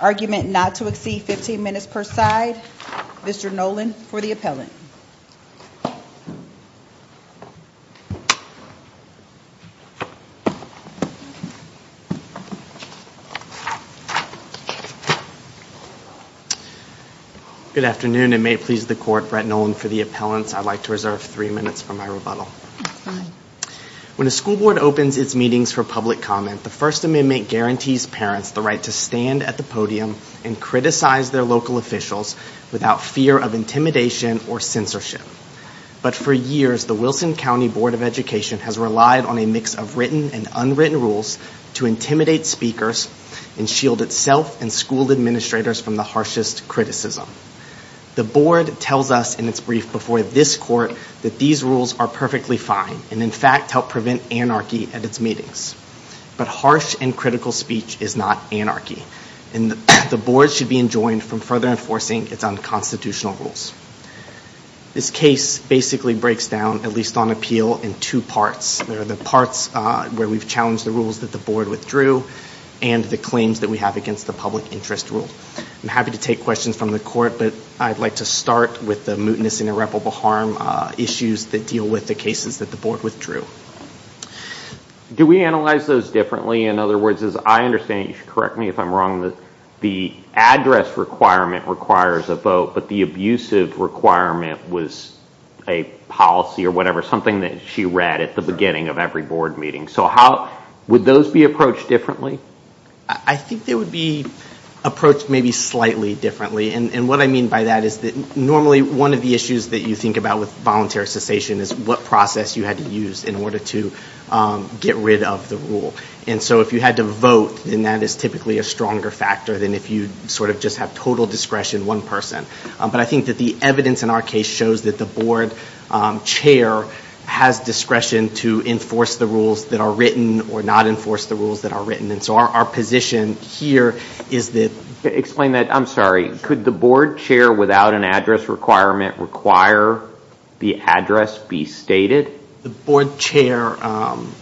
Argument not to exceed 15 minutes per side. Mr. Noland for the appellant. When a school board opens its meetings for public comment, the First Amendment guarantees parents the right to stand at the podium and criticize their local officials without fear of intimidation or censorship. But for years, the Wilson County Board of Education has relied on a mix of written and unwritten rules to intimidate speakers and shield itself and school administrators from the harshest criticism. The board tells us in its brief before this court that these rules are perfectly fine and in fact help prevent anarchy at its meetings. But harsh and critical speech is not anarchy, and the board should be enjoined from further enforcing its unconstitutional rules. This case basically breaks down at least on appeal in two parts. There are the parts where we've challenged the rules that the board withdrew and the claims that we have against the public interest rule. I'm happy to take questions from the court, but I'd like to start with the mootness and irreparable harm issues that deal with the cases that the board withdrew. Do we analyze those differently? In other words, the abusive requirement was a policy or whatever, something that she read at the beginning of every board meeting. So would those be approached differently? I think they would be approached maybe slightly differently. And what I mean by that is that normally one of the issues that you think about with voluntary cessation is what process you had to use in order to get rid of the rule. And so if you had to vote, then that is typically a stronger factor than if you just have total discretion, one person. But I think that the evidence in our case shows that the board chair has discretion to enforce the rules that are written or not enforce the rules that are written. And so our position here is that... Explain that. I'm sorry. Could the board chair without an address requirement require the address be stated? The board chair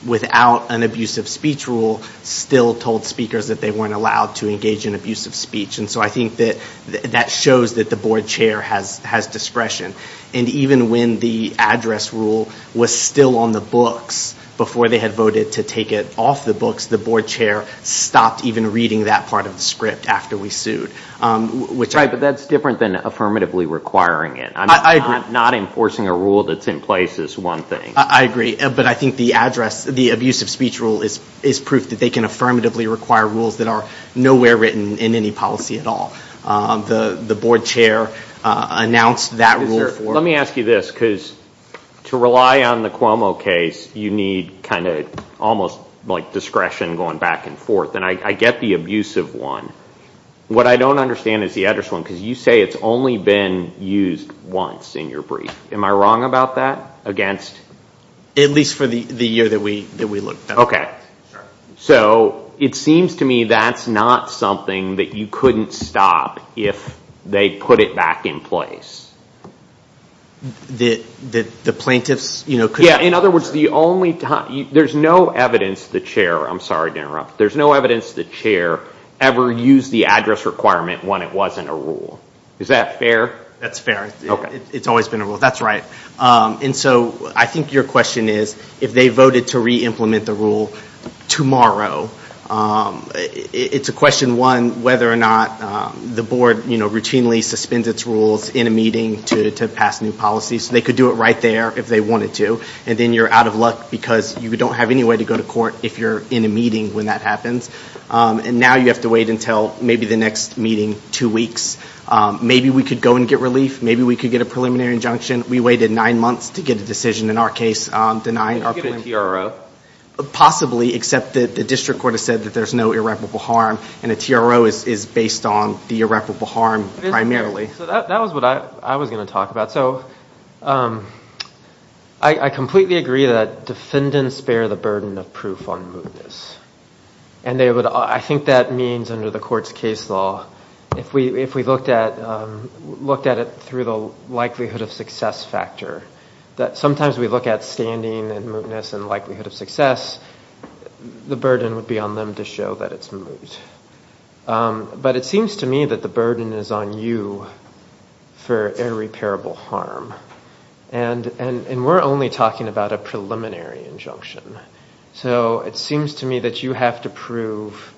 without an abusive speech rule still told speakers that they weren't allowed to engage in abusive speech. And so I think that that shows that the board chair has discretion. And even when the address rule was still on the books before they had voted to take it off the books, the board chair stopped even reading that part of the script after we sued. Right, but that's different than affirmatively requiring it. I agree. Not enforcing a rule that's in place is one thing. I agree. But I think the address, the abusive speech rule is proof that they can affirmatively require rules that are nowhere written in any policy at all. The board chair announced that rule for... Let me ask you this, because to rely on the Cuomo case, you need kind of almost like discretion going back and forth. And I get the abusive one. What I don't understand is the address one, because you say it's only been used once in your brief. Am I wrong about that? Against? At least for the year that we looked at it. So it seems to me that's not something that you couldn't stop if they put it back in place. The plaintiffs... Yeah, in other words, there's no evidence the chair, I'm sorry to interrupt, there's no evidence the chair ever used the address requirement when it wasn't a rule. Is that fair? That's fair. Okay. It's always been a rule. That's right. And so I think your question is, if they voted to re-implement the rule tomorrow, it's a question one, whether or not the board routinely suspends its rules in a meeting to pass new policies. They could do it right there if they wanted to, and then you're out of luck because you don't have any way to go to court if you're in a meeting when that happens. And now you have to wait until maybe the next meeting, two weeks. Maybe we could go and get relief. Maybe we could get a preliminary injunction. We waited nine months to get a decision in our case on denying our preliminary... You could get a TRO. Possibly, except that the district court has said that there's no irreparable harm, and a TRO is based on the irreparable harm primarily. So that was what I was going to talk about. So I completely agree that defendants bear the burden of proof on mootness. And I think that means under the court's case law, if we looked at it through the likelihood of success factor, that sometimes we look at standing and mootness and likelihood of success, the burden would be on them to show that it's moot. But it seems to me that the burden is on you for irreparable harm. And we're only talking about a preliminary injunction. So it seems to me that you have to prove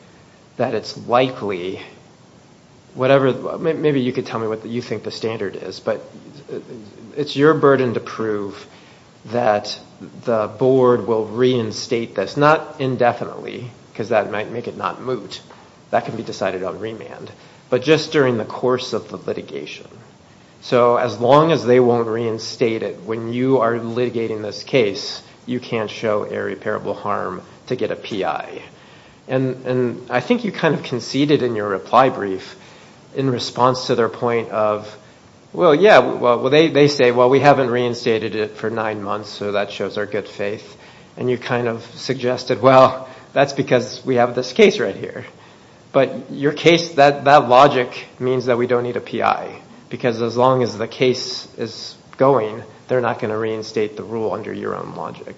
that it's likely, whatever... Maybe you could tell me what you think the standard is, but it's your burden to prove that the board will reinstate this, not indefinitely, because that might make it not moot. That can be decided on remand. But just during the course of the litigation. So as long as they won't reinstate it, when you are litigating this case, you can't show irreparable harm to get a PI. And I think you kind of conceded in your reply brief in response to their point of, well, yeah, well, they say, well, we haven't reinstated it for nine months, so that shows our good faith. And you kind of suggested, well, that's because we have this case right here. But your case, that logic means that we don't need a PI. Because as long as the case is going, they're not going to reinstate the rule under your own logic.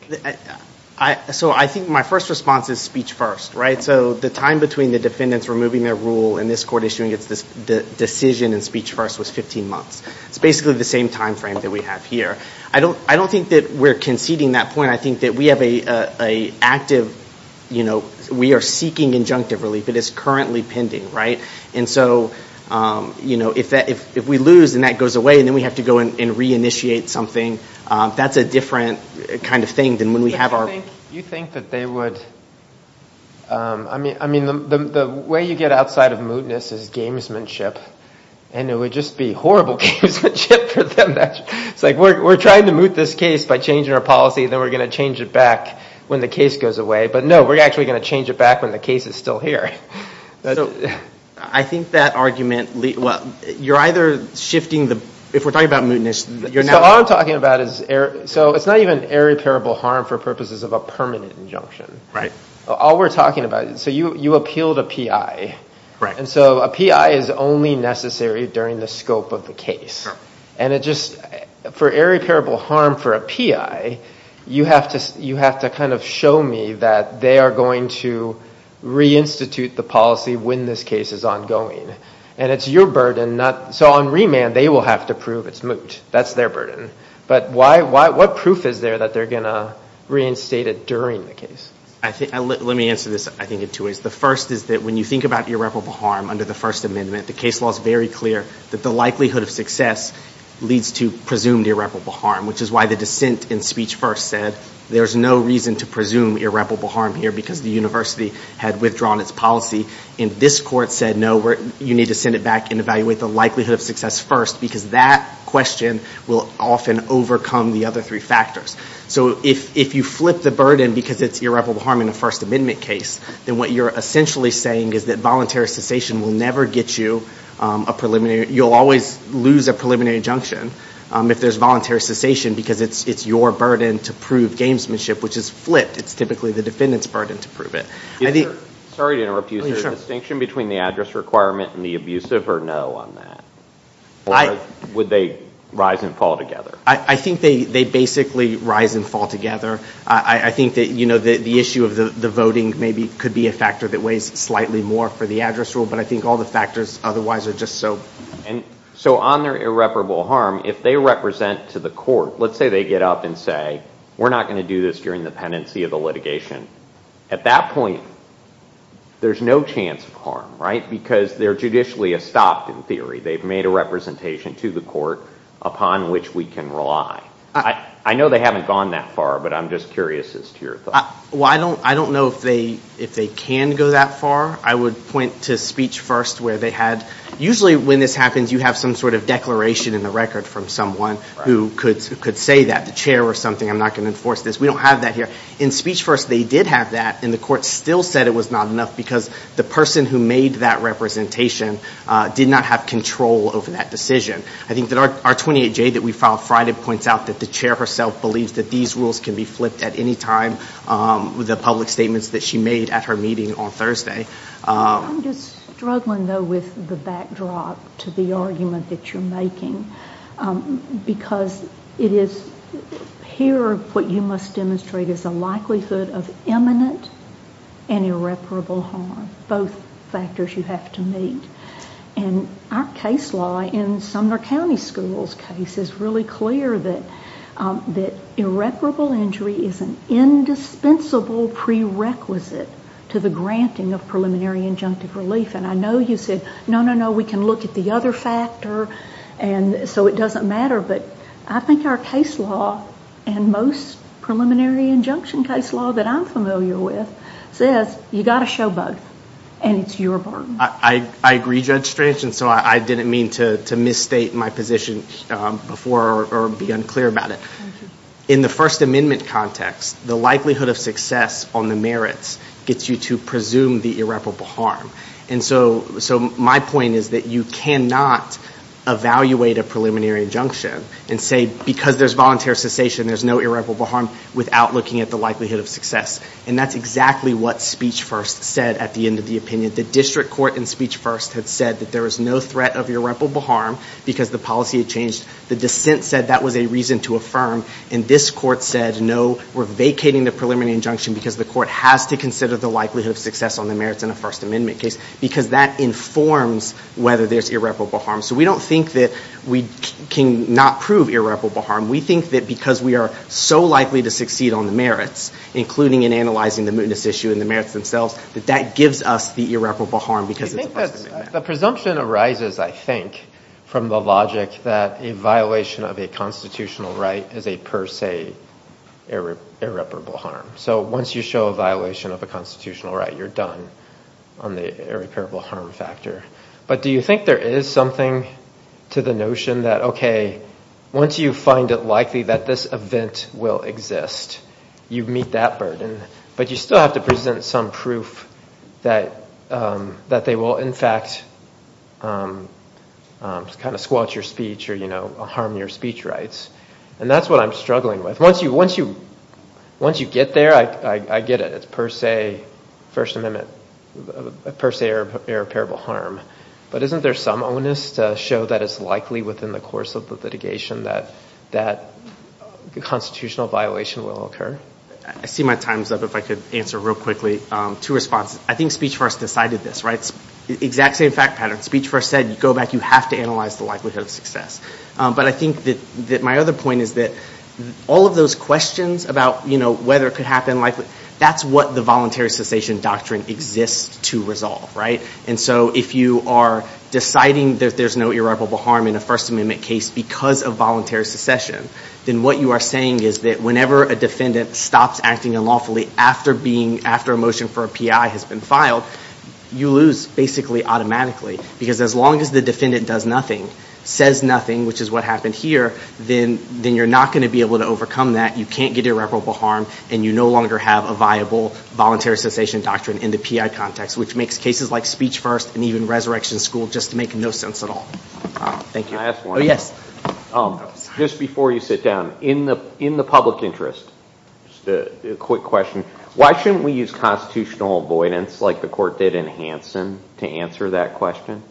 So I think my first response is speech first. So the time between the defendants removing their rule and this court issuing it, the decision in speech first was 15 months. It's basically the same time frame that we have here. I don't think that we're conceding that point. I think that we have an active... We are seeking injunctive relief. It is currently pending. And so if we lose and that goes away, then we have to go and reinitiate something else. That's a different kind of thing than when we have our... You think that they would... I mean, the way you get outside of mootness is gamesmanship, and it would just be horrible gamesmanship for them. It's like, we're trying to moot this case by changing our policy, then we're going to change it back when the case goes away. But no, we're actually going to change it back when the case is still here. I think that argument... Well, you're either shifting the... If we're talking about mootness... So all I'm talking about is... So it's not even irreparable harm for purposes of a permanent injunction. All we're talking about... So you appealed a PI. And so a PI is only necessary during the scope of the case. And it just... For irreparable harm for a PI, you have to kind of show me that they are going to reinstitute the policy when this case is ongoing. And it's your burden, not... So on remand, they will have to prove it's moot. That's their burden. But what proof is there that they're going to reinstate it during the case? Let me answer this, I think, in two ways. The first is that when you think about irreparable harm under the First Amendment, the case law is very clear that the likelihood of success leads to presumed irreparable harm, which is why the dissent in Speech First said there's no reason to presume irreparable harm here because the university had withdrawn its policy. And this court said, no, you need to send it back and evaluate the likelihood of success first because that question will often overcome the other three factors. So if you flip the burden because it's irreparable harm in a First Amendment case, then what you're essentially saying is that voluntary cessation will never get you a preliminary... You'll always lose a preliminary injunction if there's voluntary cessation because it's your burden to prove gamesmanship, which is flipped. It's typically the defendant's burden to prove it. Sorry to interrupt you. Is there a distinction between the address requirement and the abusive or no on that? Or would they rise and fall together? I think they basically rise and fall together. I think that the issue of the voting maybe could be a factor that weighs slightly more for the address rule, but I think all the factors otherwise are just so... So on their irreparable harm, if they represent to the court, let's say they get up and say, we're not going to do this during the pendency of the litigation. At that point, there's no chance of harm, right? Because they're judicially estopped in theory. They've made a representation to the court upon which we can rely. I know they haven't gone that far, but I'm just curious as to your thoughts. I don't know if they can go that far. I would point to speech first where they had... Usually when this happens, you have some sort of declaration in the record from someone who could say that, the chair or something, I'm not going to enforce this. We don't have that here. In speech first, they did have that, and the court still said it was not enough because the person who made that representation did not have control over that decision. I think that our 28J that we filed Friday points out that the chair herself believes that these rules can be flipped at any time with the public statements that she made at her meeting on Thursday. I'm just struggling, though, with the backdrop to the argument that you're making. Here, what you must demonstrate is a likelihood of imminent and irreparable harm, both factors you have to meet. Our case law in Sumner County Schools' case is really clear that irreparable injury is an indispensable prerequisite to the granting of preliminary injunctive relief. I know you said, no, no, no, we can look at the other factor, so it doesn't matter. I think our case law and most preliminary injunction case law that I'm familiar with says, you got to show both, and it's your burden. I agree, Judge Strange. I didn't mean to misstate my position before or be unclear about it. In the First Amendment context, the likelihood of success on the merits gets you to presume the irreparable harm. My point is that you cannot evaluate a preliminary injunction and say, because there's voluntary cessation, there's no irreparable harm, without looking at the likelihood of success. That's exactly what Speech First said at the end of the opinion. The district court in Speech First had said that there was no threat of irreparable harm because the policy had changed. The dissent said that was a reason to affirm, and this court said, no, we're vacating the preliminary injunction because the court has to consider the likelihood of success on the merits in a First Amendment case, because that informs whether there's irreparable harm. So we don't think that we cannot prove irreparable harm. We think that because we are so likely to succeed on the merits, including in analyzing the mootness issue and the merits themselves, that that gives us the irreparable harm because it's a First Amendment matter. The presumption arises, I think, from the logic that a violation of a constitutional right is a per se irreparable harm. So once you show a violation of a constitutional right, you're done on the irreparable harm factor. But do you think there is something to the notion that, OK, once you find it likely that this event will exist, you meet that burden, but you still have to present some proof that they will, in fact, kind of squelch your speech or, you know, harm your speech rights? And that's what I'm struggling with. Once you get there, I get it. It's per se First Amendment, per se irreparable harm. But isn't there some onus to show that it's likely within the course of the litigation that a constitutional violation will occur? I see my time's up. If I could answer real quickly. Two responses. I think Speech First decided this, right? Exact same fact pattern. Speech First said, you go back, you have to analyze the likelihood of success. But I think that my other point is that all of those questions about, you know, whether it could happen, that's what the voluntary cessation doctrine exists to resolve, right? And so if you are deciding that there's no irreparable harm in a First Amendment case because of voluntary secession, then what you are saying is that whenever a defendant stops acting unlawfully after a motion for a P.I. has been filed, you lose basically automatically. Because as long as the defendant does nothing, says nothing, which is what happened here, then you're not going to be able to overcome that. You can't get irreparable harm and you no longer have a viable voluntary cessation doctrine in the P.I. context, which makes cases like Speech First and even Resurrection School just make no sense at all. Can I ask one? Yes. Just before you sit down, in the public interest, just a quick question, why shouldn't we use constitutional avoidance like the court did in Hansen to answer that question?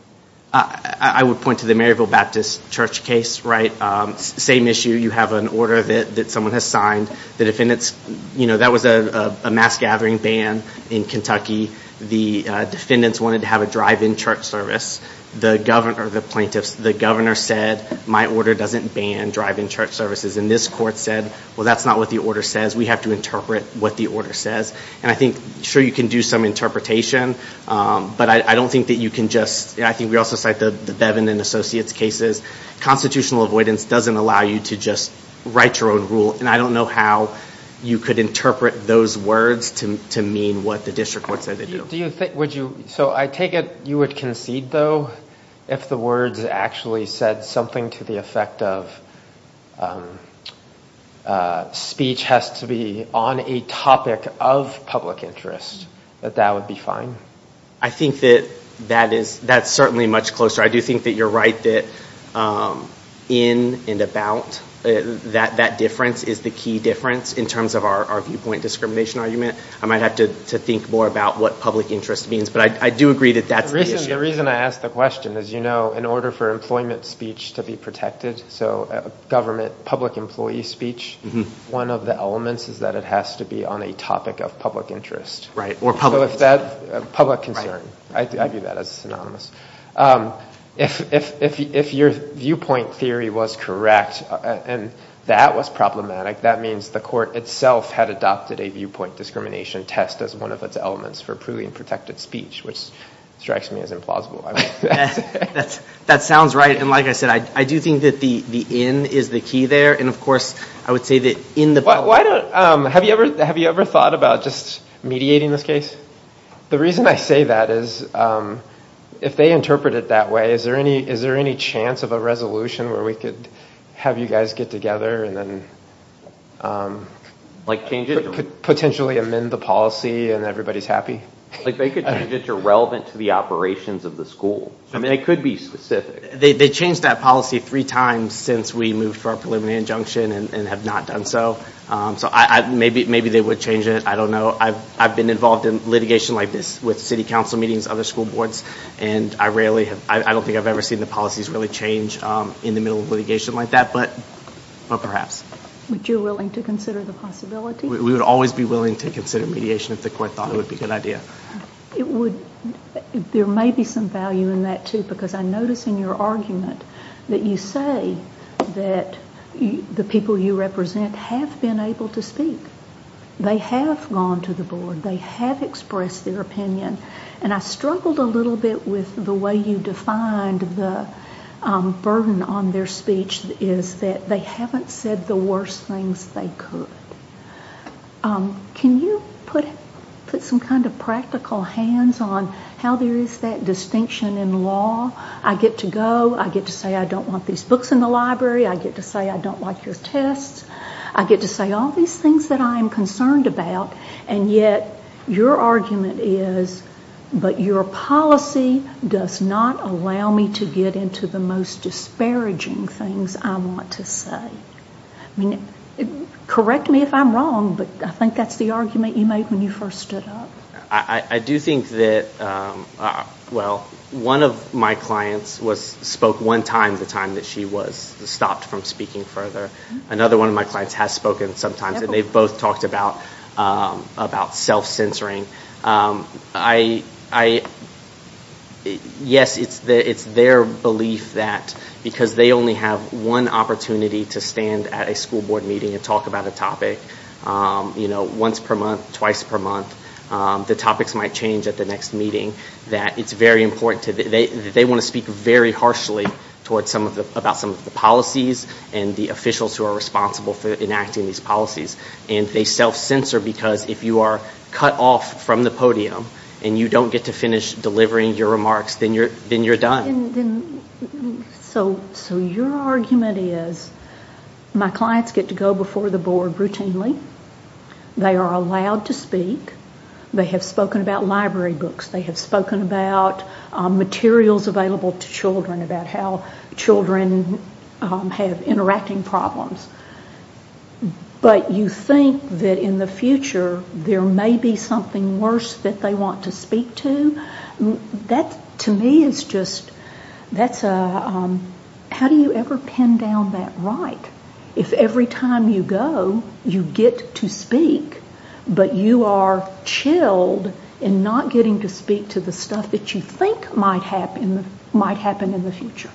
I would point to the Maryville Baptist Church case, right? Same issue, you have an order that someone has signed, the defendants, you know, that was a mass gathering ban in Kentucky, the defendants wanted to have a drive-in church service, the governor, the plaintiffs, the governor said, my order doesn't ban drive-in church services. And this court said, well, that's not what the order says, we have to interpret what the order says. And I think, sure, you can do some interpretation, but I don't think that you can just, I think we also cite the Bevin and Associates cases, constitutional avoidance doesn't allow you to just write your own rule. And I don't know how you could interpret those words to mean what the district court said they do. So I take it you would concede, though, if the words actually said something to the effect of speech has to be on a topic of public interest, that that would be fine? I think that that is, that's certainly much closer. I do think that you're right that in and about, that difference is the key difference in terms of our viewpoint discrimination argument. I might have to think more about what public interest means, but I do agree that that's the issue. The reason I ask the question is, you know, in order for employment speech to be protected, so government public employee speech, one of the elements is that it has to be on a topic of public interest. Right, or public concern. Public concern. I view that as synonymous. If your viewpoint theory was correct, and that was problematic, that means the court itself had adopted a viewpoint discrimination test as one of its elements for proving protected speech, which strikes me as implausible. That sounds right. And like I said, I do think that the in is the key there. And of course, I would say that in the... Why don't, have you ever thought about just mediating this case? The reason I say that is if they interpret it that way, is there any chance of a resolution where we could have you guys get together and then... Like change it? Potentially amend the policy and everybody's happy? Like they could change it to relevant to the operations of the school. I mean, they could be specific. They changed that policy three times since we moved for a preliminary injunction and have not done so. So maybe they would change it. I don't know. I've been involved in litigation like this with city council meetings, other school boards, and I don't think I've ever seen the policies really change in the middle of litigation like that, but perhaps. Would you be willing to consider the possibility? We would always be willing to consider mediation if the court thought it would be a good idea. There may be some value in that too, because I notice in your argument that you say that the people you represent have been able to speak. They have gone to the board. They have expressed their opinion, and I struggled a little bit with the way you defined the burden on their speech is that they haven't said the worst things they could. Can you put some kind of practical hands on how there is that distinction in law? I get to go. I get to say I don't want these books in the library. I get to say I don't like your tests. I get to say all these things that I am concerned about, and yet your argument is, but your policy does not allow me to get into the most disparaging things I want to say. Correct me if I'm wrong, but I think that's the argument you made when you first stood up. I do think that, well, one of my clients spoke one time the time that she was stopped from speaking further. Another one of my clients has spoken sometimes, and they've both talked about self-censoring. Yes, it's their belief that because they only have one opportunity to stand at a school board meeting and talk about a topic once per month, twice per month, the topics might change at the next meeting. They want to speak very harshly about some of the policies and the officials who are responsible for enacting these policies. They self-censor because if you are cut off from the podium and you don't get to finish delivering your remarks, then you're done. Your argument is my clients get to go before the board routinely. They are allowed to speak. They have spoken about library books. They have spoken about materials available to children about how children have interacting problems, but you think that in the future there may be something worse that they want to speak to. That, to me, is just... How do you ever pin down that right? If every time you go, you get to speak, but you are chilled in not getting to speak to the stuff that you think might happen in the future.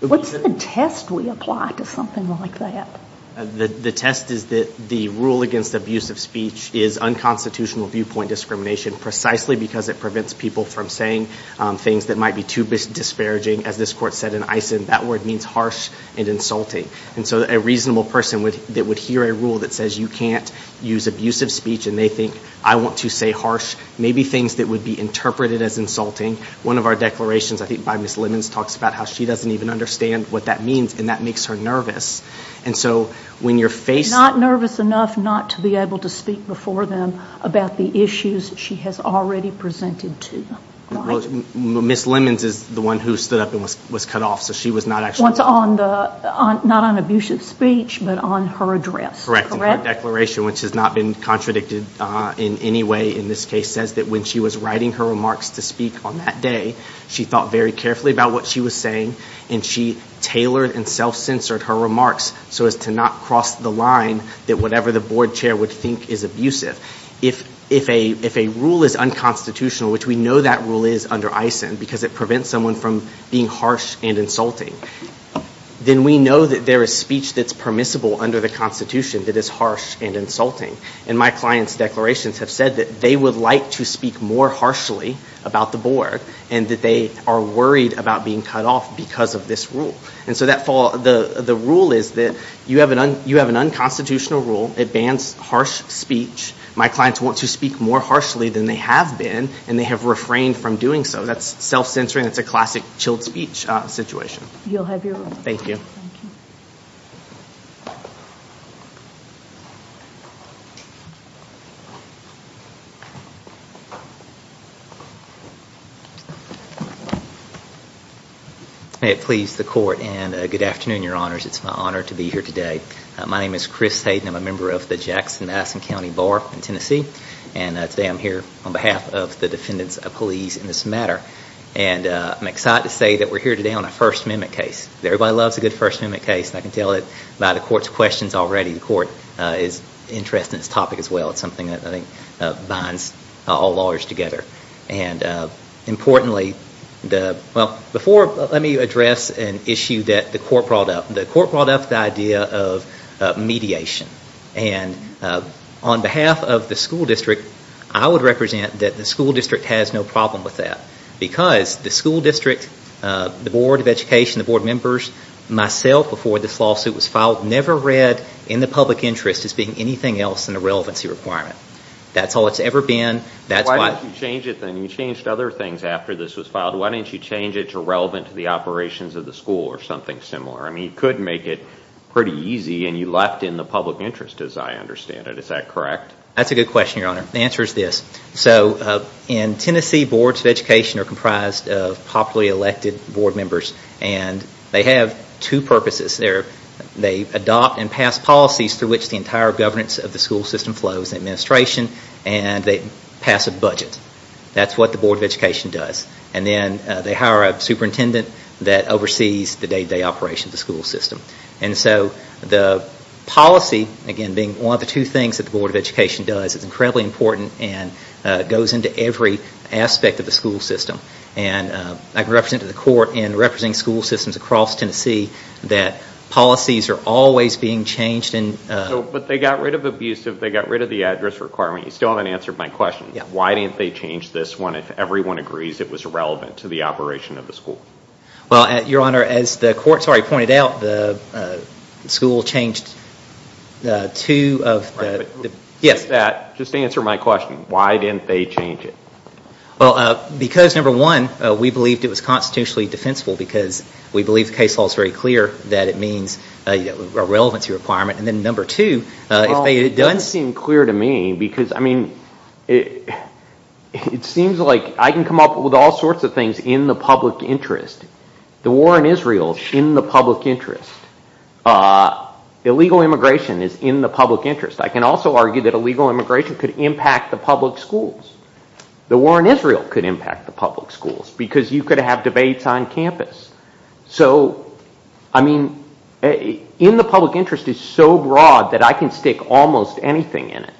What's the test we apply to something like that? The test is that the rule against abusive speech is unconstitutional viewpoint discrimination precisely because it prevents people from saying things that might be too disparaging. As this court said in Eisen, that word means harsh and insulting. A reasonable person that would hear a rule that says you can't use abusive speech and they think, I want to say harsh. Maybe things that would be interpreted as insulting. One of our declarations, I think by Ms. Lemons, talks about how she doesn't even understand what that means and that makes her nervous. Not nervous enough not to be able to speak before them about the issues she has already presented to. Ms. Lemons is the one who stood up and was cut off, so she was not actually... Not on abusive speech, but on her address. Correct. Her declaration, which has not been contradicted in any way in this case, says that when she was writing her remarks to speak on that day, she thought very carefully about what she was saying and she tailored and self-censored her remarks so as to not cross the line that whatever the board chair would think is abusive. If a rule is unconstitutional, which we know that rule is under ISIN because it prevents someone from being harsh and insulting, then we know that there is speech that's permissible under the Constitution that is harsh and insulting. My client's declarations have said that they would like to speak more harshly about the board and that they are worried about being cut off because of this rule. The rule is that you have an unconstitutional rule. It bans harsh speech. My clients want to speak more harshly than they have been, and they have refrained from doing so. That's self-censoring. That's a classic chilled speech situation. You'll have your room. Thank you. May it please the court and good afternoon, your honors. It's my honor to be here today. My name is Chris Hayden. I'm a member of the Jackson-Madison County Bar in Tennessee. Today I'm here on behalf of the defendants of police in this matter. I'm excited to say that we're here today on a First Amendment case. Everybody loves a good First Amendment case. I can tell it by the court's questions already. The court is interested in this topic as well. It's something that I think binds all lawyers together. Before, let me address an issue that the court brought up. The court brought up the idea of mediation. On behalf of the school district, I would represent that the school district has no problem with that. The school district, the Board of Education, the Board of Members, myself before this lawsuit was filed, never read in the public interest as being anything else than a relevancy requirement. That's all it's ever been. Why didn't you change it then? You changed other things after this was filed. Why didn't you change it to relevant to the operations of the school or something similar? You could make it pretty easy and you left in the public interest as I understand it. Is that correct? That's a good question, Your Honor. The answer is this. In Tennessee, boards of education are comprised of popularly elected board members. They have two purposes. They adopt and pass policies through which the entire governance of the school system flows, administration, and they pass a budget. That's what the Board of Education does. Then they hire a superintendent that oversees the day-to-day operation of the school system. The policy, again, being one of the two things that the Board of Education does, is incredibly important and goes into every aspect of the school system. I represented the court in representing school systems across Tennessee that policies are always being changed. But they got rid of abusive, they got rid of the address requirement. You still haven't answered my question. Why didn't they change this one if everyone agrees it was relevant to the operation of the school? Your Honor, as the court pointed out, the school changed two of the... Just answer my question. Why didn't they change it? Because number one, we believed it was constitutionally defensible because we believe the case law is very clear that it means a relevancy requirement. Then number two, if they had done... It doesn't seem clear to me because it seems like I can come up with all sorts of things in the public interest. The war in Israel is in the public interest. Illegal immigration is in the public interest. I can also argue that illegal immigration could impact the public schools. The war in Israel could impact the public schools because you could have debates on campus. In the public interest is so broad that I can stick almost anything in it.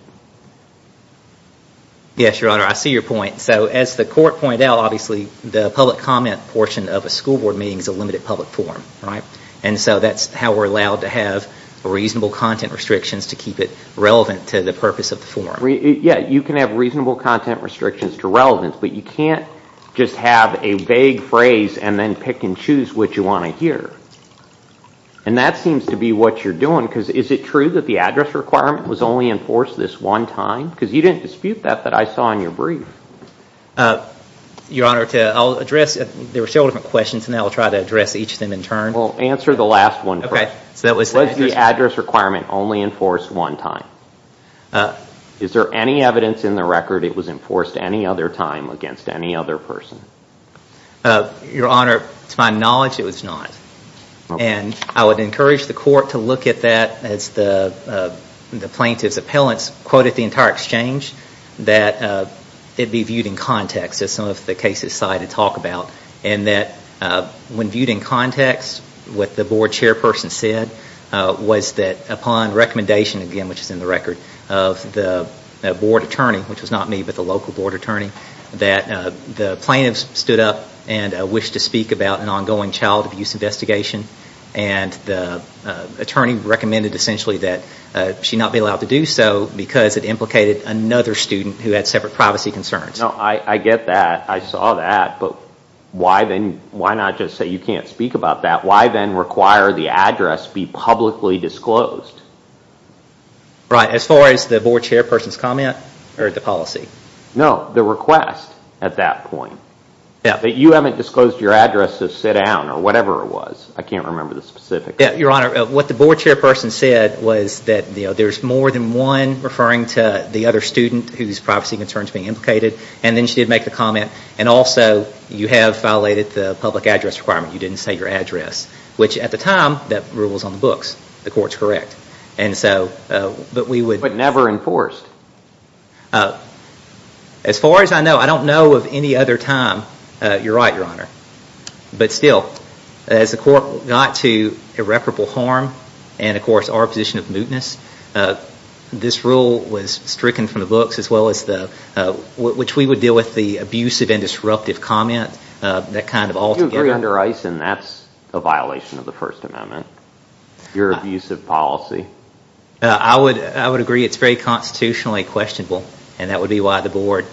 Yes, Your Honor, I see your point. As the court pointed out, obviously the public comment portion of a school board meeting is a limited public forum. That's how we're allowed to have reasonable content restrictions to keep it relevant to the purpose of the forum. You can have reasonable content restrictions to relevance, but you can't just have a vague phrase and then pick and choose what you want to hear. That seems to be what you're doing because is it true that the address requirement was only enforced this one time? Because you didn't dispute that that I saw in your brief. Your Honor, I'll address... There were several different questions and I'll try to address each of them in turn. Well, answer the last one first. Okay, so that was the address requirement. Was the address requirement only enforced one time? Is there any evidence in the record it was enforced any other time against any other person? Your Honor, to my knowledge, it was not. And I would encourage the court to look at that as the plaintiff's appellant's quote at the entire exchange that it be viewed in context as some of the cases cited talk about. And that when viewed in context, what the board chairperson said was that upon recommendation, again which is in the record, of the board attorney, that the plaintiff stood up and wished to speak about an ongoing child abuse investigation and the attorney recommended essentially that she not be allowed to do so because it implicated another student who had separate privacy concerns. No, I get that. I saw that. But why not just say you can't speak about that? Why then require the address be publicly disclosed? Right, as far as the board chairperson's comment or the policy? No, the request at that point. That you haven't disclosed your address to sit down or whatever it was. I can't remember the specifics. Your Honor, what the board chairperson said was that there's more than one referring to the other student whose privacy concerns being implicated. And then she did make the comment. And also, you have violated the public address requirement. You didn't say your address. Which at the time, that rule was on the books. The court's correct. And so, but we would... But never enforced? As far as I know, I don't know of any other time. You're right, Your Honor. But still, as the court got to irreparable harm and, of course, our position of mootness, this rule was stricken from the books as well as the, which we would deal with the abusive and disruptive comment, that kind of altogether... You agree under ICE and that's a violation of the First Amendment, your abusive policy. I would agree it's very constitutionally questionable. And that would be why the board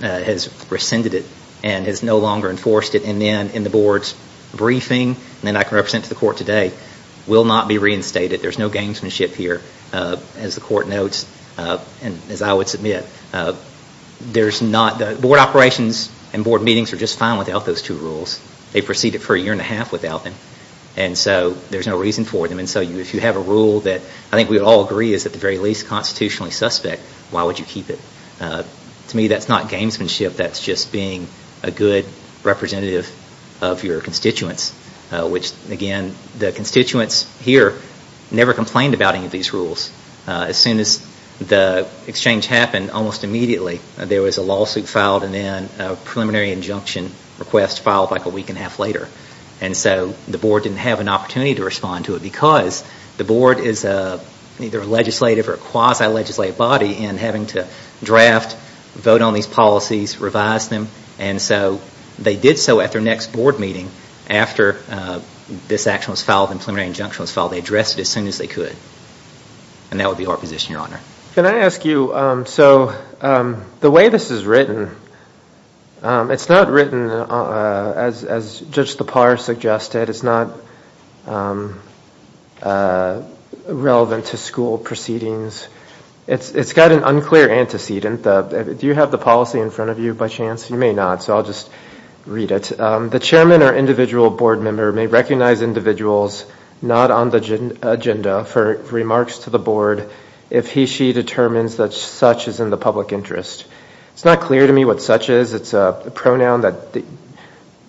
has rescinded it and has no longer enforced it. And then in the board's briefing, and then I can represent to the court today, will not be reinstated. There's no gamesmanship here, as the court notes, and as I would submit. There's not... Board operations and board meetings are just fine without those two rules. They proceed it for a year and a half without them. And so there's no reason for them. And so if you have a rule that I think we would all agree is at the very least constitutionally suspect, why would you keep it? To me, that's not gamesmanship. That's just being a good representative of your constituents, which again, the constituents here never complained about any of these rules. As soon as the exchange happened, almost immediately, there was a lawsuit filed and then a preliminary injunction request filed like a week and a half later. And so the board didn't have an opportunity to respond to it because the board is either a legislative or quasi-legislative body in having to draft, vote on these policies, revise them. And so they did so at their next board meeting after this action was filed and preliminary injunction was filed. They addressed it as soon as they could. And that would be our position, your honor. Can I ask you, so the way this is written, it's not written as Judge Lepar suggested. It's not relevant to school proceedings. It's got an unclear antecedent. Do you have the policy in front of you by chance? You may not, so I'll just read it. The chairman or individual board member may recognize individuals not on the agenda for remarks to the board if he or she determines that such is in the public interest. It's not clear to me what such is. It's a pronoun that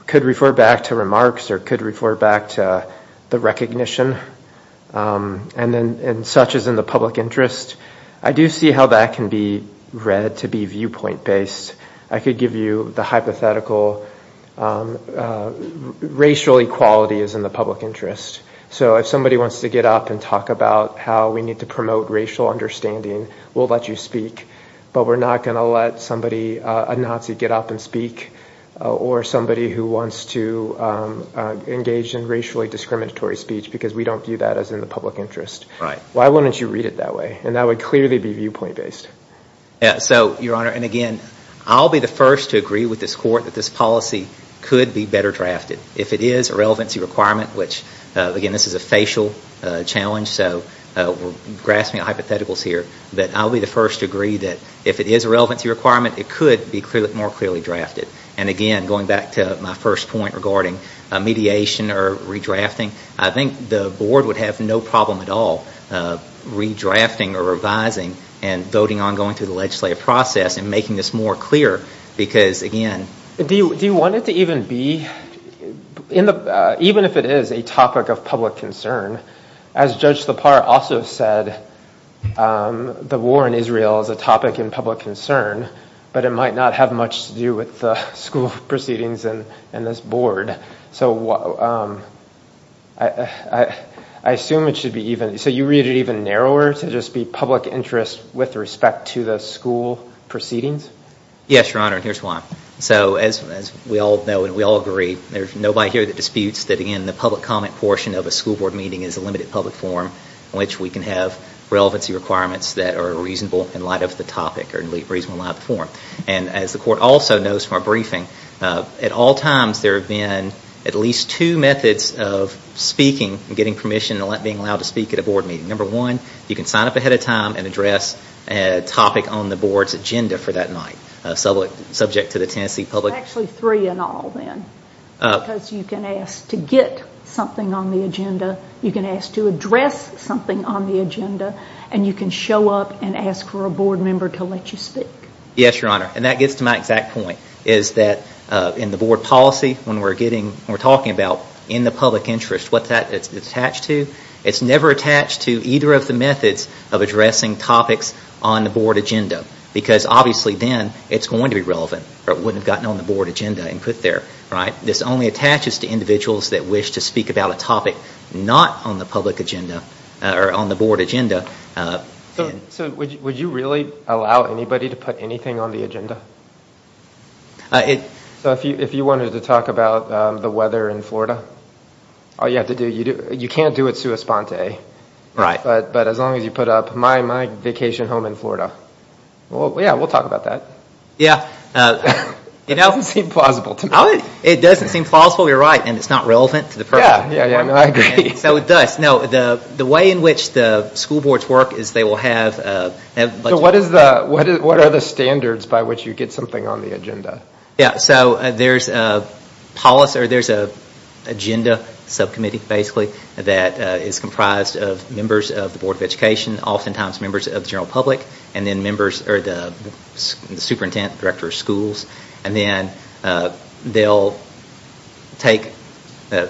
could refer back to remarks or could refer back to the recognition and such is in the public interest. I do see how that can be read to be viewpoint-based. I could give you the hypothetical racial equality is in the public interest. So if somebody wants to get up and talk about how we need to promote racial understanding, we'll let you speak. But we're not going to let a Nazi get up and speak or somebody who wants to engage in racially discriminatory speech because we don't view that as in the public interest. Why wouldn't you read it that way? And that would clearly be viewpoint-based. So, your honor, and again, I'll be the first to agree with this court that this policy could be better drafted. If it is a relevancy requirement, which again, this is a facial challenge, so we're grasping at hypotheticals here. But I'll be the first to agree that if it is a relevancy requirement, it could be more clearly drafted. And again, going back to my first point regarding mediation or redrafting, I think the board would have no problem at all redrafting or revising and voting on going through the legislative process and making this more clear because, again... Do you want it to even be, even if it is a topic of public concern, as Judge Lepar also said, the war in Israel is a topic in public concern, but it might not have much to do with the school proceedings and this board. So I assume it should be even, so you read it even narrower to just be public interest with respect to the school proceedings? Yes, your honor, and here's why. So, as we all know and we all agree, there's nobody here that disputes that, again, the public comment portion of a school board meeting is a limited public forum in which we can have relevancy requirements that are reasonable in light of the topic or in reasonable light of the forum. And as the court also knows from our briefing, at all times there have been at least two methods of speaking and getting permission and being allowed to speak at a board meeting. Number one, you can sign up ahead of time and address a topic on the board's agenda for that night, subject to the Tennessee public... Actually three in all, then, because you can ask to get something on the agenda, you can ask to address something on the agenda, and you can show up and ask for a board member to let you speak. Yes, your honor, and that gets to my exact point, is that in the board policy, when we're talking about in the public interest, what that's attached to, it's never attached to either of the methods of addressing topics on the board agenda, because obviously then it's going to be relevant, or it wouldn't have gotten on the board agenda and put there. This only attaches to individuals that wish to speak about a topic not on the public agenda or on the board agenda. So, would you really allow anybody to put anything on the agenda? If you wanted to talk about the weather in Florida, all you have to do, you can't do it sua sponte, but as long as you put up, my vacation home in Florida. Well, yeah, we'll talk about that. Yeah. It doesn't seem plausible to me. It doesn't seem plausible, you're right, and it's not relevant to the purpose. Yeah, I agree. So it does. No, the way in which the school boards work is they will have... So what are the standards by which you get something on the agenda? Yeah, so there's a policy, or there's an agenda subcommittee, basically, that is comprised of members of the Board of Education, oftentimes members of the general public, and then members, or the superintendent, director of schools, and then they'll take,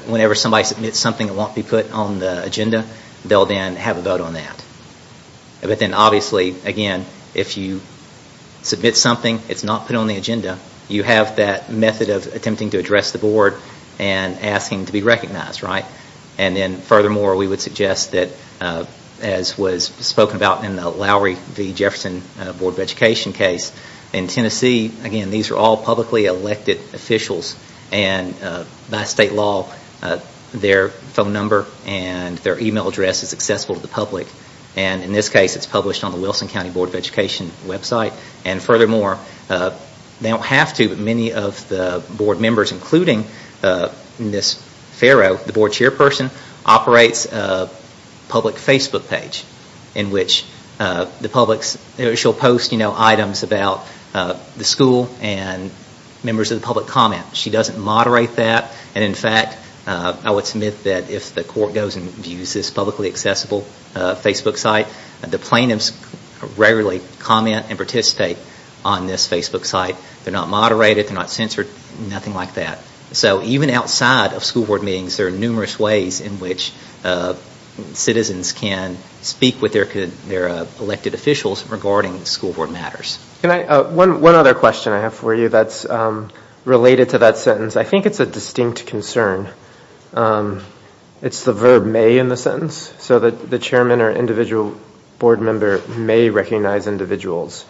whenever somebody submits something that won't be put on the agenda, they'll then have a vote on that. But then, obviously, again, if you submit something that's not put on the agenda, you have that method of attempting to address the board and asking to be recognized, right? And then, furthermore, we would suggest that, as was spoken about in the Lowry v. Jefferson Board of Education case, in Tennessee, again, these are all publicly elected officials, and by state law, their phone number and their email address is accessible to the public. And, in this case, it's published on the Wilson County Board of Education website. And, furthermore, they don't have to, but many of the board members, including Ms. Farrow, the board chairperson, operates a public Facebook page in which she'll post items about the school and members of the public comment. She doesn't moderate that, and, in fact, I would submit that if the court goes and views this publicly accessible Facebook site, the plaintiffs rarely comment and participate on this Facebook site. They're not moderated, they're not censored, nothing like that. So even outside of school board meetings, there are numerous ways in which citizens can speak with their elected officials regarding school board matters. One other question I have for you that's related to that sentence. I think it's a distinct concern. It's the verb may in the sentence. So the chairman or individual board member may recognize individuals.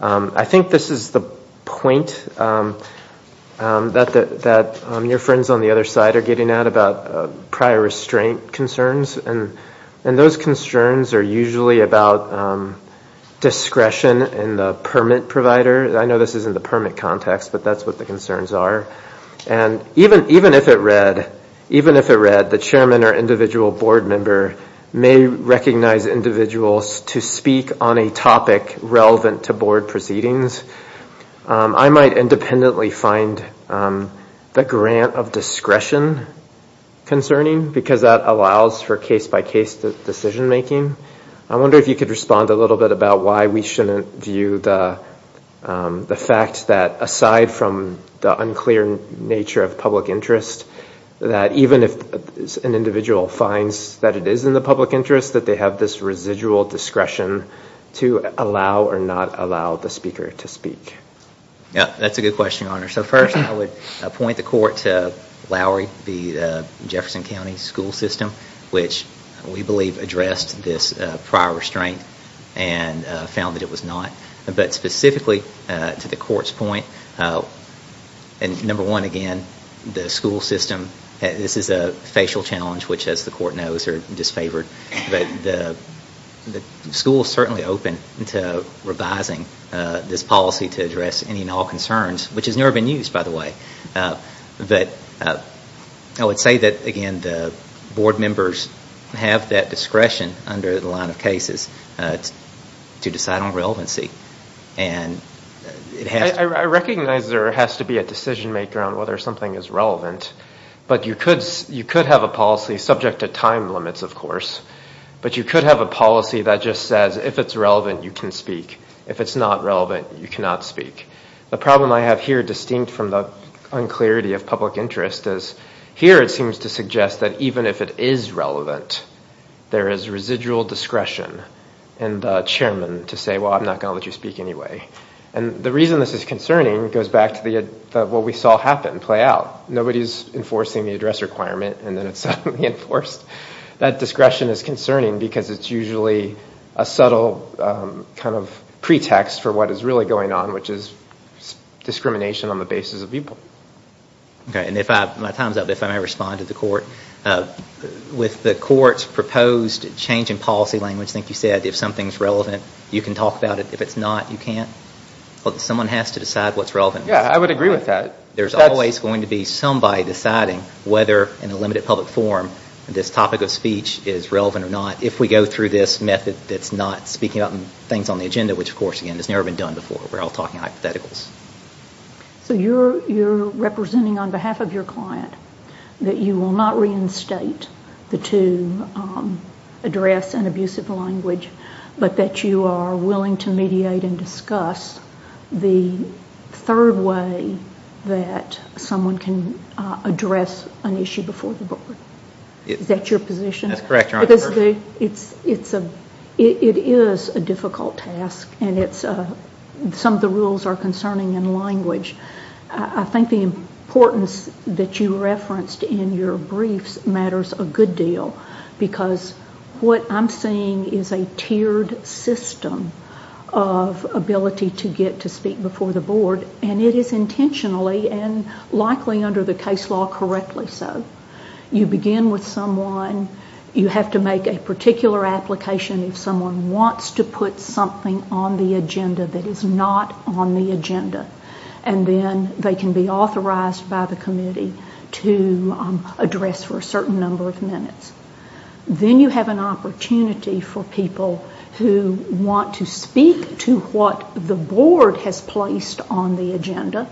I think this is the point that your friends on the other side are getting at about prior restraint concerns, and those concerns are usually about discretion in the permit provider. I know this isn't the permit context, but that's what the concerns are. And even if it read the chairman or individual board member may recognize individuals to speak on a topic relevant to board proceedings, I might independently find the grant of discretion concerning, because that allows for case-by-case decision making. I wonder if you could respond a little bit about why we shouldn't view the fact that, aside from the unclear nature of public interest, that even if an individual finds that it is in the public interest, that they have this residual discretion to allow or not allow the speaker to speak. That's a good question, Your Honor. So first I would point the court to Lowry v. Jefferson County School System, which we believe addressed this prior restraint and found that it was not. But specifically to the court's point, number one, again, the school system, this is a facial challenge which, as the court knows, are disfavored. The school is certainly open to revising this policy to address any and all concerns, which has never been used, by the way. I would say that, again, the board members have that discretion under the line of cases to decide on relevancy. I recognize there has to be a decision maker on whether something is relevant, but you could have a policy, subject to time limits, of course, but you could have a policy that just says if it's relevant, you can speak. If it's not relevant, you cannot speak. The problem I have here, distinct from the unclarity of public interest, is here it seems to suggest that even if it is relevant, there is residual discretion in the chairman to say, well, I'm not going to let you speak anyway. The reason this is concerning goes back to what we saw happen, play out. Nobody is enforcing the address requirement and then it's suddenly enforced. That discretion is concerning because it's usually a subtle kind of pretext for what is really going on, which is discrimination on the basis of evil. My time is up. If I may respond to the court. With the court's proposed change in policy language, I think you said, if something is relevant, you can talk about it. If it's not, you can't. Someone has to decide what's relevant. I would agree with that. There's always going to be somebody deciding whether, in a limited public forum, this topic of speech is relevant or not, if we go through this method that's not speaking about things on the agenda, which, of course, again, has never been done before. We're all talking hypotheticals. You're representing, on behalf of your client, that you will not reinstate the two address and abusive language, but that you are willing to mediate and discuss the third way that someone can address an issue before the board. Is that your position? That's correct, Your Honor. It is a difficult task. Some of the rules are concerning in language. I think the importance that you referenced in your briefs matters a good deal because what I'm seeing is a tiered system of ability to get to speak before the board, and it is intentionally and likely under the case law correctly so. You begin with someone. You have to make a particular application if someone wants to put something on the agenda that is not on the agenda, and then they can be authorized by the committee to address for a certain number of minutes. Then you have an opportunity for people who want to speak to what the board has placed on the agenda,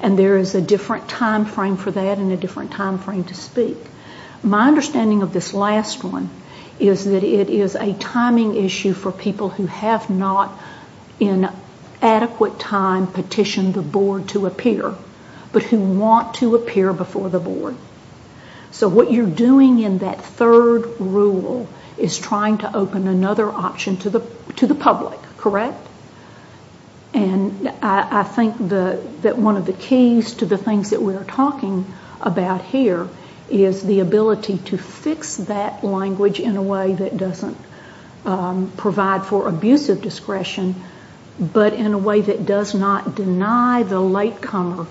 and there is a different time frame for that and a different time frame to speak. My understanding of this last one is that it is a timing issue for people who have not in adequate time petitioned the board to appear, but who want to appear before the board. So what you're doing in that third rule is trying to open another option to the public, correct? And I think that one of the keys to the things that we are talking about here is the ability to fix that language in a way that doesn't provide for abusive discretion, but in a way that does not deny the latecomer,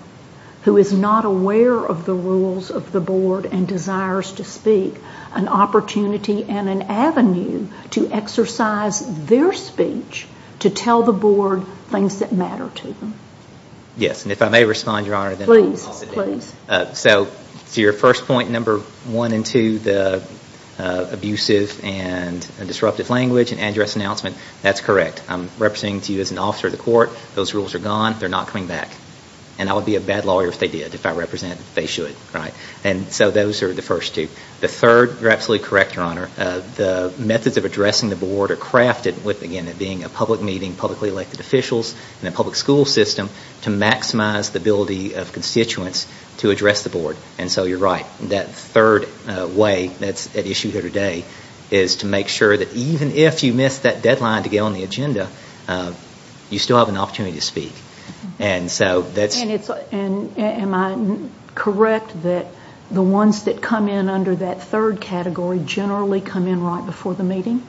who is not aware of the rules of the board and desires to speak, an opportunity and an avenue to exercise their speech to tell the board things that matter to them. Yes, and if I may respond, Your Honor. Please, please. So to your first point, number one and two, the abusive and disruptive language and address announcement, that's correct. I'm representing to you as an officer of the court. Those rules are gone. They're not coming back. And I would be a bad lawyer if they did, if I represented. They should, right? And so those are the first two. The third, you're absolutely correct, Your Honor, the methods of addressing the board are crafted with, again, it being a public meeting, publicly elected officials, and a public school system to maximize the ability of constituents to address the board. And so you're right, that third way that's at issue here today is to make sure that even if you miss that deadline to get on the agenda, you still have an opportunity to speak. And am I correct that the ones that come in under that third category generally come in right before the meeting?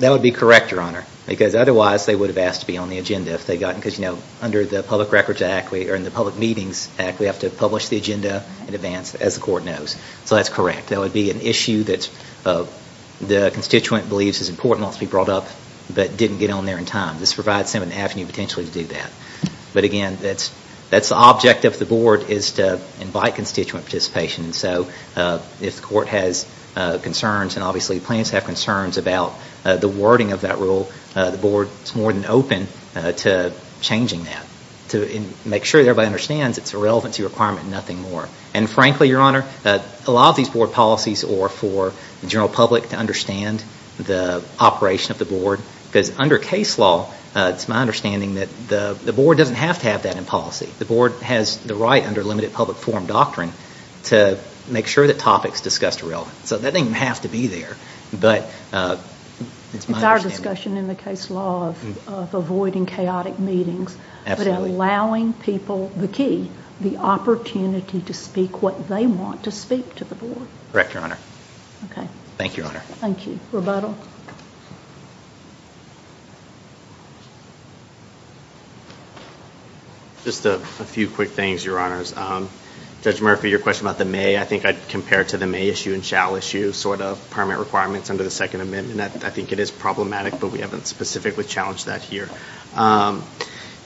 That would be correct, Your Honor, because otherwise they would have asked to be on the agenda if they'd gotten, because under the Public Records Act, or in the Public Meetings Act, we have to publish the agenda in advance, as the court knows. So that's correct. That would be an issue that the constituent believes is important, wants to be brought up, but didn't get on there in time. This provides them an avenue, potentially, to do that. But again, that's the object of the board, is to invite constituent participation. So if the court has concerns, and obviously the plaintiffs have concerns about the wording of that rule, the board is more than open to changing that, to make sure everybody understands it's irrelevant to your requirement and nothing more. And frankly, Your Honor, a lot of these board policies are for the general public to understand the operation of the board, because under case law, it's my understanding that the board doesn't have to have that in policy. The board has the right, under limited public forum doctrine, to make sure that topics discussed are relevant. So that doesn't even have to be there, but it's my understanding. It's our discussion in the case law of avoiding chaotic meetings, but allowing people, the key, the opportunity to speak what they want to speak to the board. Correct, Your Honor. Okay. Thank you, Your Honor. Thank you. Rebuttal. Just a few quick things, Your Honors. Judge Murphy, your question about the may, I think I'd compare it to the may issue and shall issue, sort of, permit requirements under the Second Amendment. I think it is problematic, but we haven't specifically challenged that here.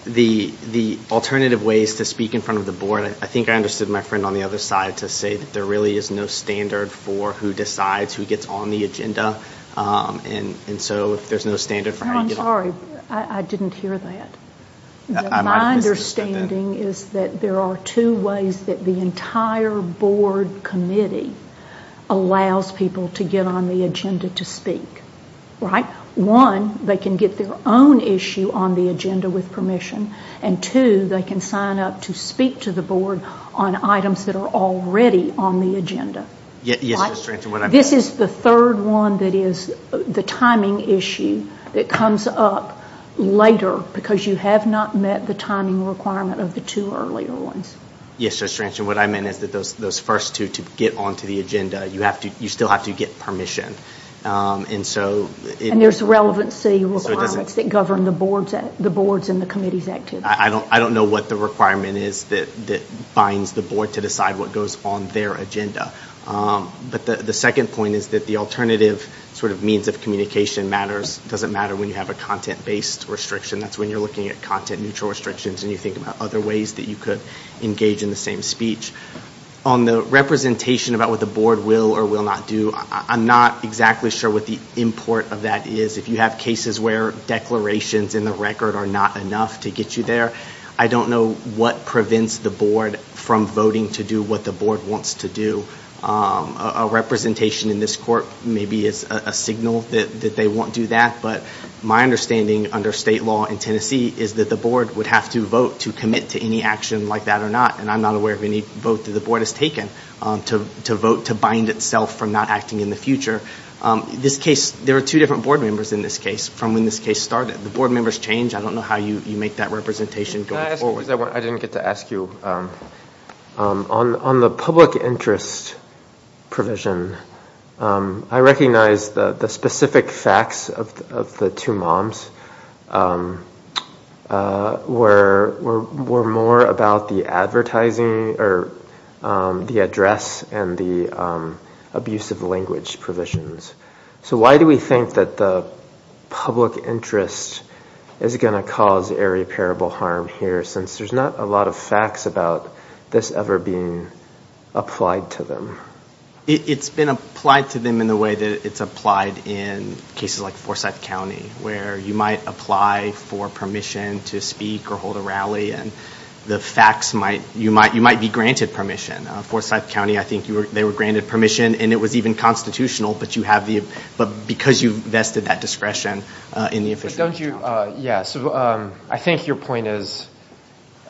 The alternative ways to speak in front of the board, I think I understood my friend on the other side to say that there really is no standard for who decides who gets on the agenda, and so if there's no standard for how you get on the agenda. I'm sorry. I didn't hear that. My understanding is that there are two ways that the entire board committee allows people to get on the agenda to speak, right? One, they can get their own issue on the agenda with permission, and two, they can sign up to speak to the board on items that are already on the agenda. Yes, Judge Tranchin. This is the third one that is the timing issue that comes up later because you have not met the timing requirement of the two earlier ones. Yes, Judge Tranchin. What I meant is that those first two to get onto the agenda, you still have to get permission. And there's relevancy requirements that govern the boards and the committee's activities. I don't know what the requirement is that binds the board to decide what goes on their agenda. But the second point is that the alternative sort of means of communication matters. It doesn't matter when you have a content-based restriction. That's when you're looking at content-neutral restrictions and you think about other ways that you could engage in the same speech. On the representation about what the board will or will not do, I'm not exactly sure what the import of that is. If you have cases where declarations in the record are not enough to get you there, I don't know what prevents the board from voting to do what the board wants to do. A representation in this court maybe is a signal that they won't do that. But my understanding under state law in Tennessee is that the board would have to vote to commit to any action like that or not. And I'm not aware of any vote that the board has taken to vote to bind itself from not acting in the future. There are two different board members in this case from when this case started. The board members change. I don't know how you make that representation go forward. I didn't get to ask you. On the public interest provision, I recognize the specific facts of the two moms were more about the advertising or the address and the abusive language provisions. So why do we think that the public interest is going to cause irreparable harm here since there's not a lot of facts about this ever being applied to them? It's been applied to them in the way that it's applied in cases like Forsyth County where you might apply for permission to speak or hold a rally and the facts might, you might be granted permission. Forsyth County, I think they were granted permission and it was even constitutional but because you've vested that discretion in the official account. But don't you, yeah, so I think your point is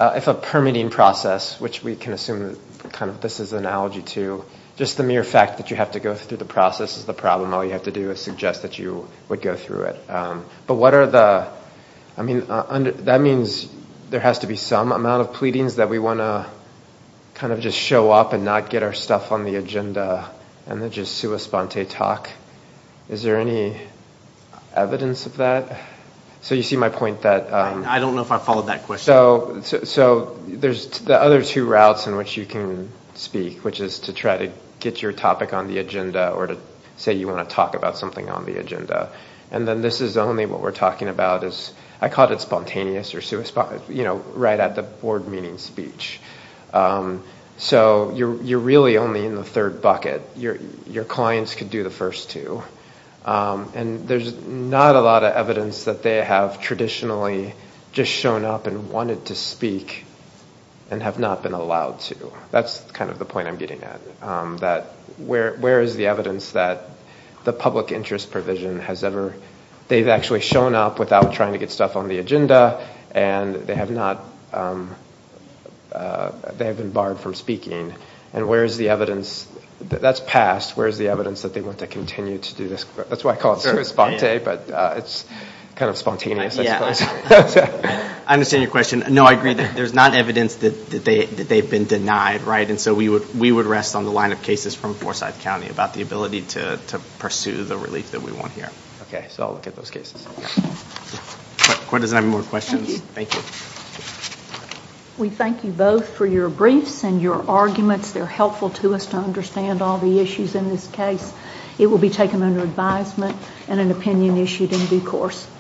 if a permitting process, which we can assume kind of this is an analogy to just the mere fact that you have to go through the process and this is the problem, all you have to do is suggest that you would go through it. But what are the, I mean, that means there has to be some amount of pleadings that we want to kind of just show up and not get our stuff on the agenda and then just sua sponte talk. Is there any evidence of that? So you see my point that. I don't know if I followed that question. So there's the other two routes in which you can speak, which is to try to get your topic on the agenda or to say you want to talk about something on the agenda. And then this is only what we're talking about is, I call it spontaneous or sua sponte, you know, right at the board meeting speech. So you're really only in the third bucket. Your clients could do the first two. And there's not a lot of evidence that they have traditionally just shown up and wanted to speak and have not been allowed to. So that's kind of the point I'm getting at, that where is the evidence that the public interest provision has ever, they've actually shown up without trying to get stuff on the agenda and they have not, they have been barred from speaking. And where is the evidence, that's past. Where is the evidence that they want to continue to do this? That's why I call it sua sponte, but it's kind of spontaneous, I suppose. I understand your question. No, I agree. There's not evidence that they've been denied, right? And so we would rest on the line of cases from Forsyth County about the ability to pursue the relief that we want here. Okay, so I'll look at those cases. Does anyone have more questions? Thank you. We thank you both for your briefs and your arguments. They're helpful to us to understand all the issues in this case. It will be taken under advisement and an opinion issued in due course.